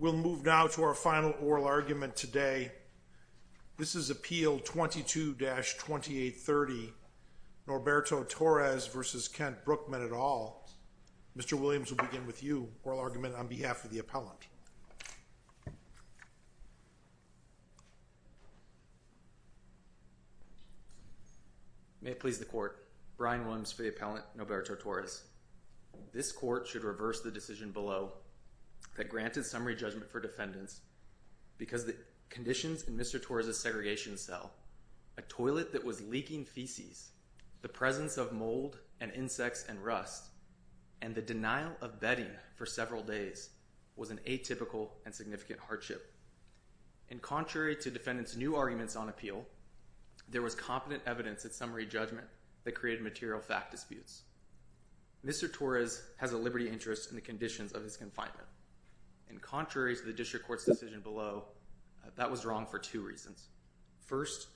We'll move now to our final oral argument today. This is Appeal 22-2830, Norberto Torres v. Kent Brookman et al. Mr. Williams will begin with you, oral argument on behalf of the appellant. May it please the Court. Brian Williams for the appellant, Norberto Torres. This Court should reverse the decision below that granted summary judgment for defendants because the conditions in Mr. Torres' segregation cell, a toilet that was leaking feces, the presence of mold and insects and rust, and the denial of bedding for several days was an atypical and significant hardship. And contrary to defendants' new arguments on appeal, there was competent evidence at summary judgment that created material fact disputes. Mr. Torres has a liberty interest in the conditions of his confinement. And contrary to the District Court's decision below, that was wrong for two reasons. First,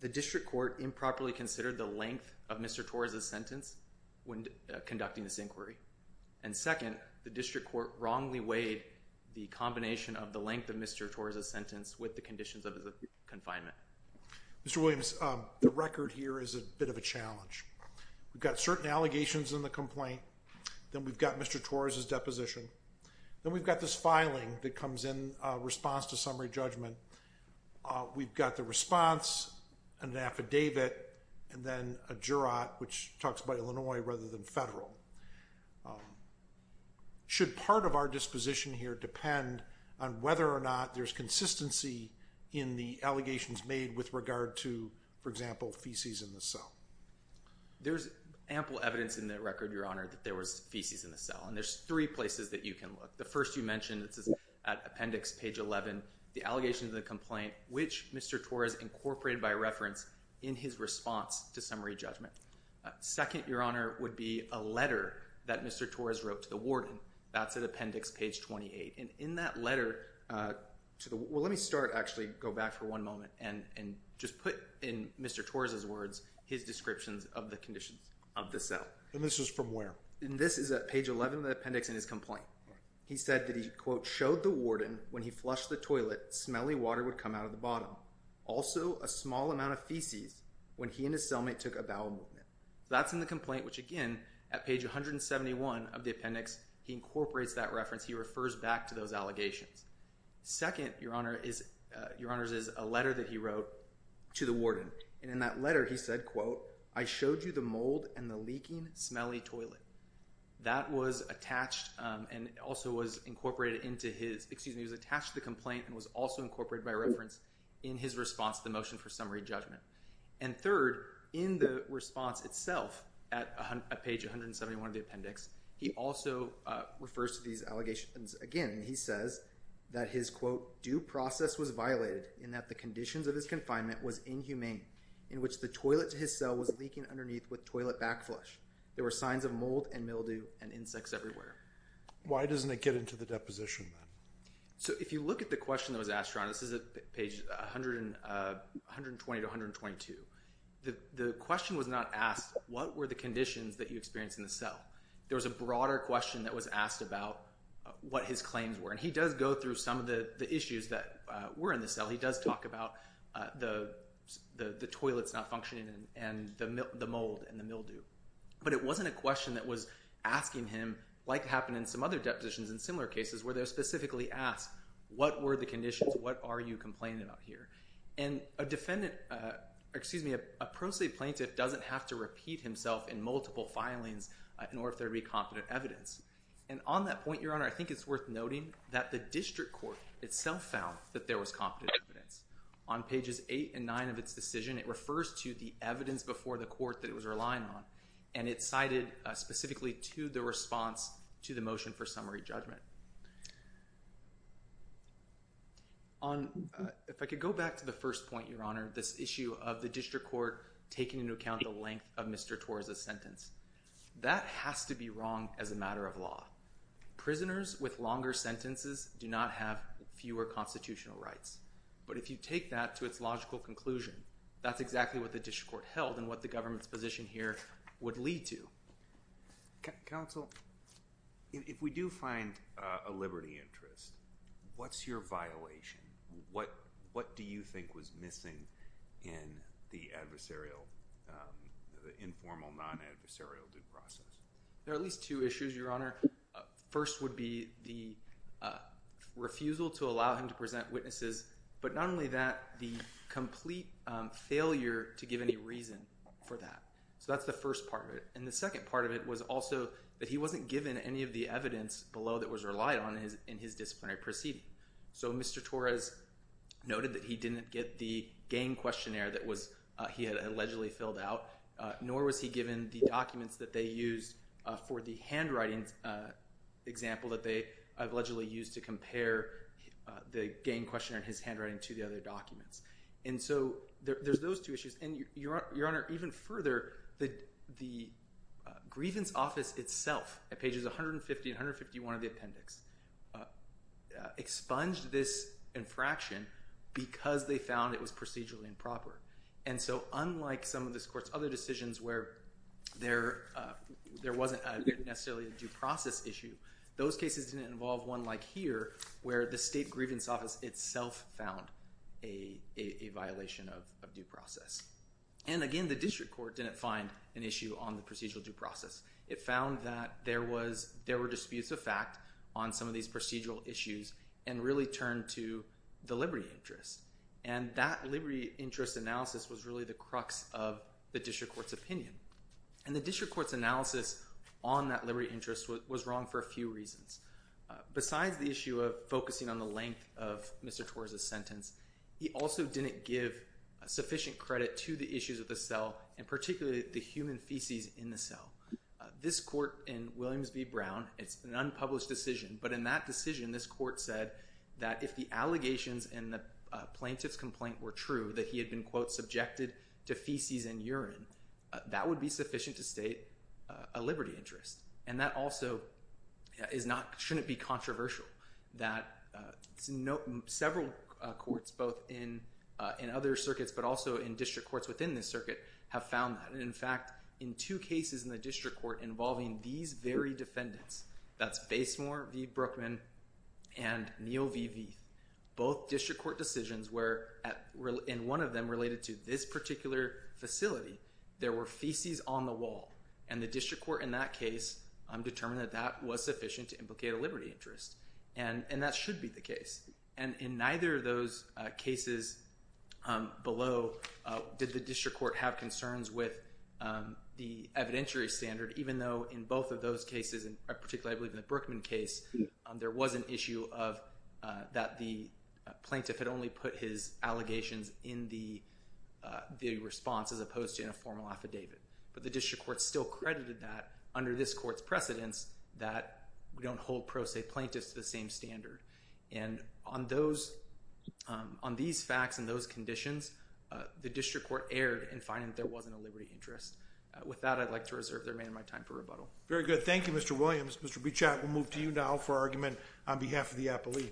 the District Court improperly considered the length of Mr. Torres' sentence when conducting this inquiry. And second, the District Court wrongly weighed the combination of the length of Mr. Torres' sentence with the conditions of his confinement. Mr. Williams, the record here is a bit of a challenge. We've got certain allegations in the complaint. Then we've got Mr. Torres' deposition. Then we've got this filing that comes in response to summary judgment. We've got the response, an affidavit, and then a jurat, which talks about Illinois rather than federal. Should part of our disposition here depend on whether or not there's consistency in the allegations made with regard to, for example, feces in the cell? There's ample evidence in the record, Your Honor, that there was feces in the cell. And there's three places that you can look. The first you mentioned at Appendix page 11, the allegation of the complaint, which Mr. Torres incorporated by reference in his response to summary judgment. Second, Your Honor, would be a letter that Mr. Torres wrote to the warden. That's at Appendix page 28. And in that letter to the – well, let me start, actually, go back for one moment and just put in Mr. Torres' words his descriptions of the conditions of the cell. And this is from where? And this is at page 11 of the appendix in his complaint. He said that he, quote, showed the warden when he flushed the toilet, smelly water would come out of the bottom. Also, a small amount of feces when he and his cellmate took a bowel movement. That's in the complaint, which, again, at page 171 of the appendix, he incorporates that reference. He refers back to those allegations. Second, Your Honor, is – Your Honors, is a letter that he wrote to the warden. And in that letter he said, quote, I showed you the mold and the leaking, smelly toilet. That was attached and also was incorporated into his – excuse me, was attached to the complaint and was also incorporated by reference in his response to the motion for summary judgment. And third, in the response itself at page 171 of the appendix, he also refers to these allegations again. He says that his, quote, due process was violated in that the conditions of his confinement was inhumane in which the toilet to his cell was leaking underneath with toilet back flush. There were signs of mold and mildew and insects everywhere. Why doesn't it get into the deposition then? So if you look at the question that was asked, Your Honor, this is at page 120 to 122. The question was not asked what were the conditions that you experienced in the cell. There was a broader question that was asked about what his claims were. And he does go through some of the issues that were in the cell. He does talk about the toilets not functioning and the mold and the mildew. But it wasn't a question that was asking him like happened in some other depositions in similar cases where they specifically asked what were the conditions? What are you complaining about here? And a defendant, excuse me, a pro se plaintiff doesn't have to repeat himself in multiple filings in order for there to be competent evidence. And on that point, Your Honor, I think it's worth noting that the district court itself found that there was competent evidence. On pages 8 and 9 of its decision, it refers to the evidence before the court that it was relying on. And it cited specifically to the response to the motion for summary judgment. If I could go back to the first point, Your Honor, this issue of the district court taking into account the length of Mr. Torres' sentence. That has to be wrong as a matter of law. Prisoners with longer sentences do not have fewer constitutional rights. But if you take that to its logical conclusion, that's exactly what the district court held and what the government's position here would lead to. Counsel, if we do find a liberty interest, what's your violation? What do you think was missing in the adversarial, the informal non-adversarial due process? There are at least two issues, Your Honor. First would be the refusal to allow him to present witnesses. But not only that, the complete failure to give any reason for that. So that's the first part of it. And the second part of it was also that he wasn't given any of the evidence below that was relied on in his disciplinary proceeding. So Mr. Torres noted that he didn't get the gain questionnaire that he had allegedly filled out. Nor was he given the documents that they used for the handwriting example that they allegedly used to compare the gain questionnaire and his handwriting to the other documents. And so there's those two issues. And, Your Honor, even further, the grievance office itself at pages 150 and 151 of the appendix expunged this infraction because they found it was procedurally improper. And so unlike some of this court's other decisions where there wasn't necessarily a due process issue, those cases didn't involve one like here where the state grievance office itself found a violation of due process. And, again, the district court didn't find an issue on the procedural due process. It found that there were disputes of fact on some of these procedural issues and really turned to the liberty interest. And that liberty interest analysis was really the crux of the district court's opinion. And the district court's analysis on that liberty interest was wrong for a few reasons. Besides the issue of focusing on the length of Mr. Torres's sentence, he also didn't give sufficient credit to the issues of the cell and particularly the human feces in the cell. This court in Williams v. Brown, it's an unpublished decision, but in that decision this court said that if the allegations in the plaintiff's complaint were true, that he had been, quote, subjected to feces and urine, that would be sufficient to state a liberty interest. And that also shouldn't be controversial. Several courts, both in other circuits but also in district courts within this circuit, have found that. And, in fact, in two cases in the district court involving these very defendants, that's Basemore v. Brookman and Neal v. Vieth, both district court decisions where in one of them related to this particular facility, there were feces on the wall. And the district court in that case determined that that was sufficient to implicate a liberty interest. And that should be the case. And in neither of those cases below did the district court have concerns with the evidentiary standard, even though in both of those cases, particularly I believe in the Brookman case, there was an issue that the plaintiff had only put his allegations in the response as opposed to in a formal affidavit. But the district court still credited that under this court's precedence that we don't hold pro se plaintiffs to the same standard. And on these facts and those conditions, the district court erred in finding that there wasn't a liberty interest. With that, I'd like to reserve the remainder of my time for rebuttal. Very good. Thank you, Mr. Williams. Mr. Beauchat, we'll move to you now for argument on behalf of the appellee.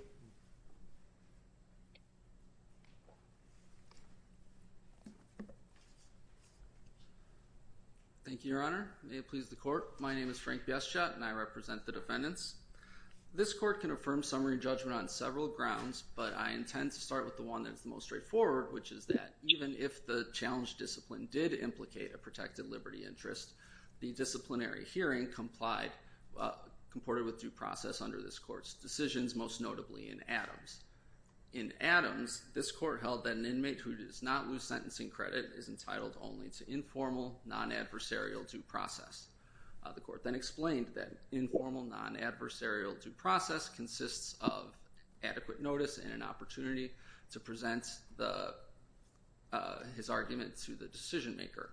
Thank you, Your Honor. May it please the Court. My name is Frank Beauchat, and I represent the defendants. This court can affirm summary judgment on several grounds, but I intend to start with the one that's the most straightforward, which is that even if the challenged discipline did implicate a protected liberty interest, the disciplinary hearing complied, comported with due process under this court's decisions, most notably in Adams. In Adams, this court held that an inmate who does not lose sentencing credit is entitled only to informal, non-adversarial due process. The court then explained that informal, non-adversarial due process consists of adequate notice and an opportunity to present his argument to the decision maker.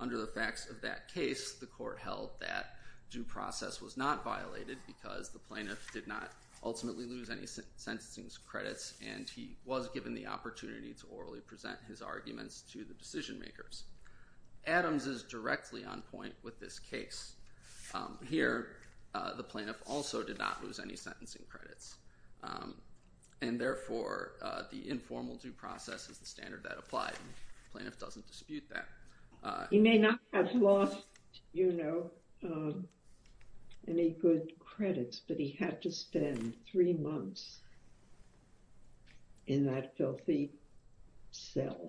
Under the facts of that case, the court held that due process was not violated because the plaintiff did not ultimately lose any sentencing credits, and he was given the opportunity to orally present his arguments to the decision makers. Adams is directly on point with this case. Here, the plaintiff also did not lose any sentencing credits, and therefore the informal due process is the standard that applied. The plaintiff doesn't dispute that. He may not have lost, you know, any good credits, but he had to spend three months in that filthy cell.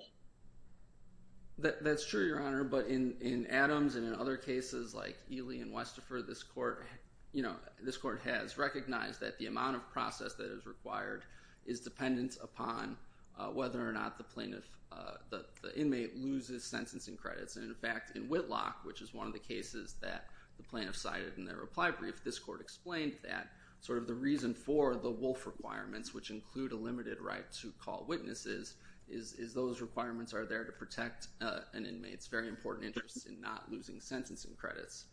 That's true, Your Honor, but in Adams and in other cases like Ely and Westifer, this court, you know, this court has recognized that the amount of process that is required is dependent upon whether or not the plaintiff, the inmate, loses sentencing credits. In fact, in Whitlock, which is one of the cases that the plaintiff cited in their reply brief, this court explained that sort of the reason for the wolf requirements, which include a limited right to call witnesses, is those requirements are there to protect an inmate's very important interest in not losing sentencing credits.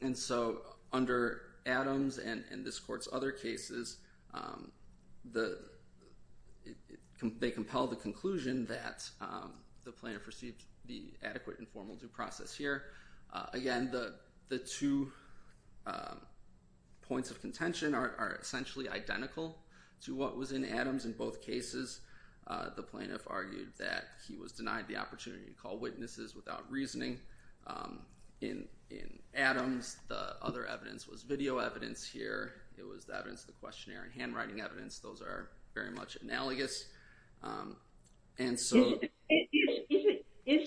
And so under Adams and this court's other cases, they compel the conclusion that the plaintiff received the adequate informal due process here. Again, the two points of contention are essentially identical to what was in Adams in both cases. The plaintiff argued that he was denied the opportunity to call witnesses without reasoning. In Adams, the other evidence was video evidence here. It was the evidence of the questionnaire and handwriting evidence. Those are very much analogous. And so... Well, yes, I mean,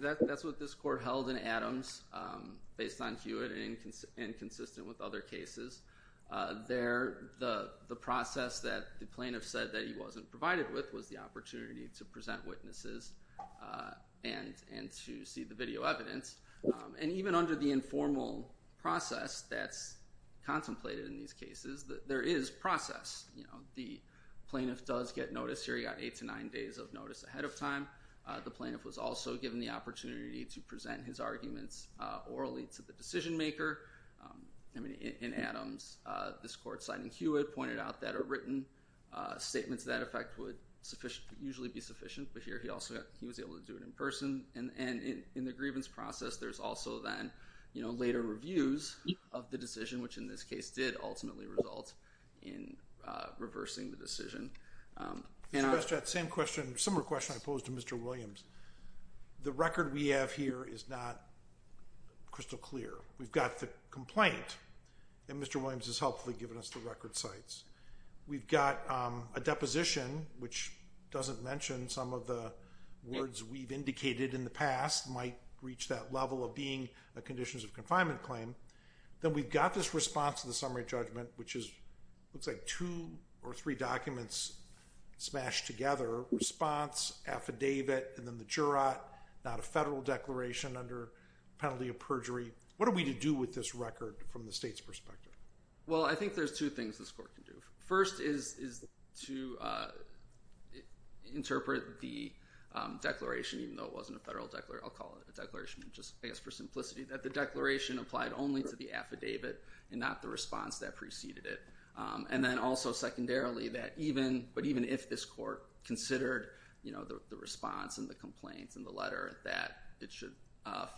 that's what this court held in Adams based on Hewitt and consistent with other cases. There, the process that the plaintiff said that he wasn't provided with was the opportunity to present witnesses and to see the video evidence. And even under the informal process that's contemplated in these cases, there is process. You know, the plaintiff does get notice here. He got eight to nine days of notice ahead of time. The plaintiff was also given the opportunity to present his arguments orally to the decision maker. I mean, in Adams, this court, citing Hewitt, pointed out that a written statement to that effect would usually be sufficient. But here he also, he was able to do it in person. And in the grievance process, there's also then, you know, later reviews of the decision, which in this case did ultimately result in reversing the decision. Mr. Bestrat, same question, similar question I posed to Mr. Williams. The record we have here is not crystal clear. We've got the complaint, and Mr. Williams has helpfully given us the record sites. We've got a deposition, which doesn't mention some of the words we've indicated in the past might reach that level of being a conditions of confinement claim. Then we've got this response to the summary judgment, which is, looks like two or three documents smashed together. Response, affidavit, and then the jurat, not a federal declaration under penalty of perjury. What are we to do with this record from the state's perspective? Well, I think there's two things this court can do. First is to interpret the declaration, even though it wasn't a federal declaration, I'll call it a declaration just I guess for simplicity, that the declaration applied only to the affidavit and not the response that preceded it. And then also secondarily, that even, but even if this court considered, you know, the response and the complaints and the letter, that it should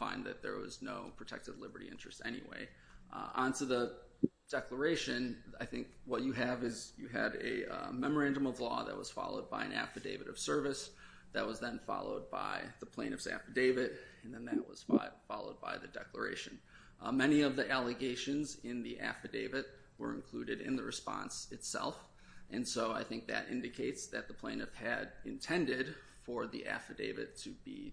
find that there was no protected liberty interest anyway. Onto the declaration, I think what you have is you had a memorandum of law that was followed by an affidavit of service that was then followed by the plaintiff's affidavit. And then that was followed by the declaration. Many of the allegations in the affidavit were included in the response itself. And so I think that indicates that the plaintiff had intended for the affidavit to be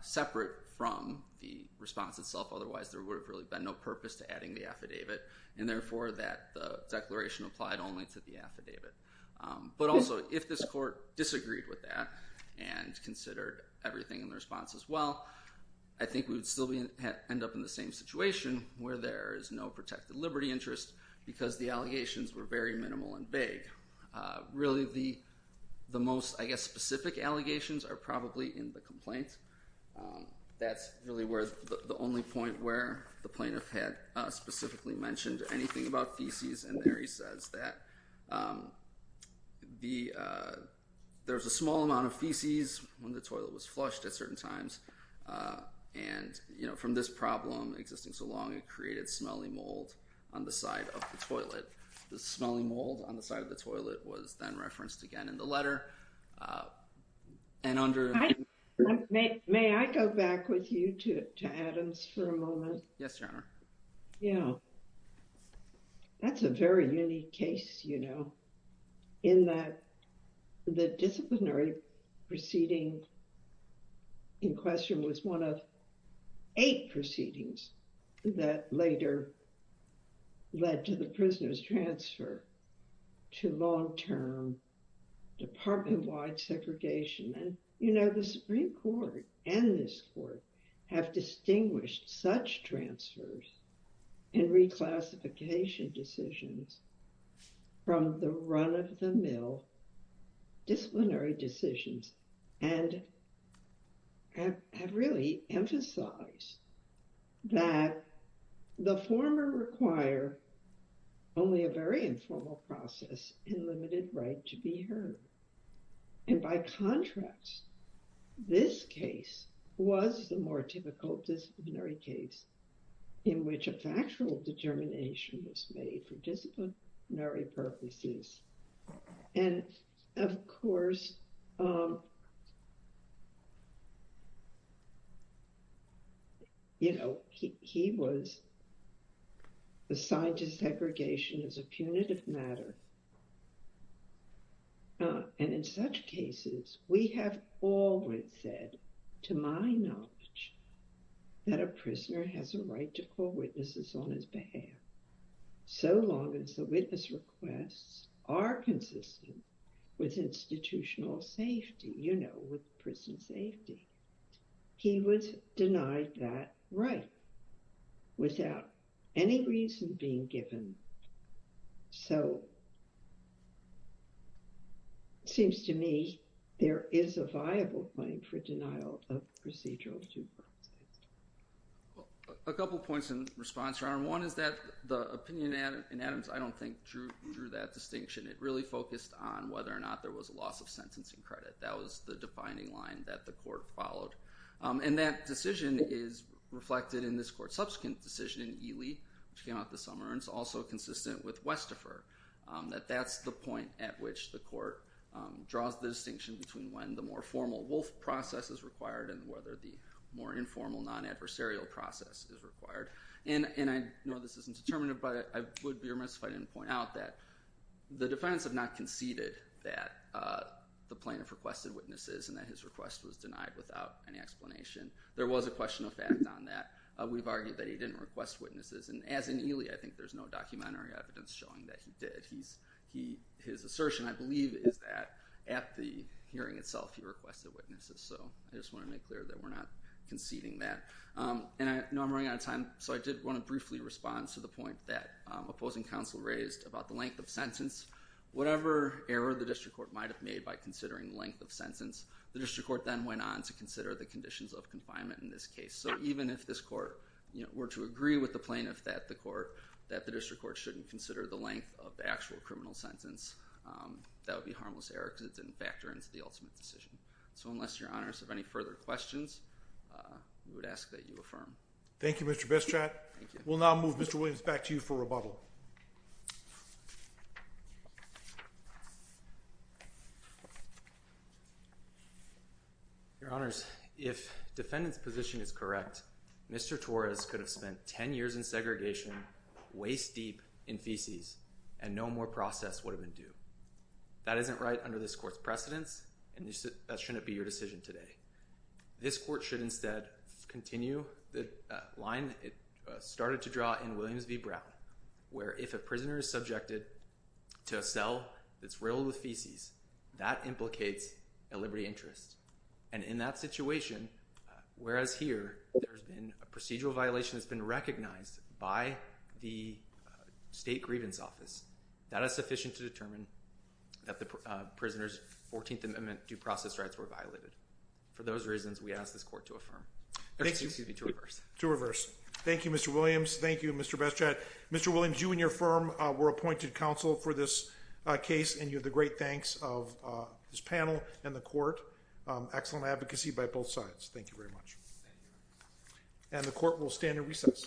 separate from the response itself. Otherwise, there would have really been no purpose to adding the affidavit. And therefore, that the declaration applied only to the affidavit. But also, if this court disagreed with that and considered everything in the response as well, I think we would still end up in the same situation where there is no protected liberty interest because the allegations were very minimal and vague. Really, the most, I guess, specific allegations are probably in the complaint. That's really the only point where the plaintiff had specifically mentioned anything about feces. And there he says that there was a small amount of feces when the toilet was flushed at certain times. And from this problem existing so long, it created smelly mold on the side of the toilet. The smelly mold on the side of the toilet was then referenced again in the letter. May I go back with you to Adams for a moment? Yes, Your Honor. Yeah. That's a very unique case, you know, in that the disciplinary proceeding in question was one of eight proceedings that later led to the prisoner's transfer to long-term department-wide segregation. And, you know, the Supreme Court and this court have distinguished such transfers and reclassification decisions from the run-of-the-mill disciplinary decisions and have really emphasized that the former require only a very informal process and limited right to be heard. And by contrast, this case was the more typical disciplinary case in which a factual determination was made for disciplinary purposes. And, of course, you know, he was assigned to segregation as a punitive matter. And in such cases, we have always said, to my knowledge, that a prisoner has a right to call witnesses on his behalf so long as the witness requests are consistent with institutional safety, you know, with prison safety. He was denied that right without any reason being given. So it seems to me there is a viable claim for denial of procedural due process. A couple of points in response, Your Honor. One is that the opinion in Adams, I don't think, drew that distinction. It really focused on whether or not there was a loss of sentencing credit. That was the defining line that the court followed. And that decision is reflected in this court's subsequent decision in Ely, which came out this summer, and it's also consistent with Westifer. That that's the point at which the court draws the distinction between when the more formal wolf process is required and whether the more informal non-adversarial process is required. And I know this isn't determinative, but I would be remiss if I didn't point out that the defendants have not conceded that the plaintiff requested witnesses and that his request was denied without any explanation. There was a question of fact on that. We've argued that he didn't request witnesses. And as in Ely, I think there's no documentary evidence showing that he did. His assertion, I believe, is that at the hearing itself, he requested witnesses. So I just want to make clear that we're not conceding that. And I know I'm running out of time, so I did want to briefly respond to the point that opposing counsel raised about the length of sentence. Whatever error the district court might have made by considering length of sentence, the district court then went on to consider the conditions of confinement in this case. So even if this court were to agree with the plaintiff that the district court shouldn't consider the length of the actual criminal sentence, that would be a harmless error because it didn't factor into the ultimate decision. So unless your honors have any further questions, we would ask that you affirm. Thank you, Mr. Bestrat. We'll now move Mr. Williams back to you for rebuttal. Your honors, if defendant's position is correct, Mr. Torres could have spent 10 years in segregation, waist deep in feces, and no more process would have been due. That isn't right under this court's precedence, and that shouldn't be your decision today. This court should instead continue the line it started to draw in Williams v. Brown, where if a prisoner is subjected to a cell that's riddled with feces, that implicates a liberty interest. And in that situation, whereas here there's been a procedural violation that's been recognized by the state grievance office, that is sufficient to determine that the prisoner's 14th Amendment due process rights were violated. For those reasons, we ask this court to affirm. Excuse me, to reverse. Thank you, Mr. Williams. Thank you, Mr. Bestrat. Mr. Williams, you and your firm were appointed counsel for this case, and you have the great thanks of this panel and the court. Excellent advocacy by both sides. Thank you very much. And the court will stand at recess.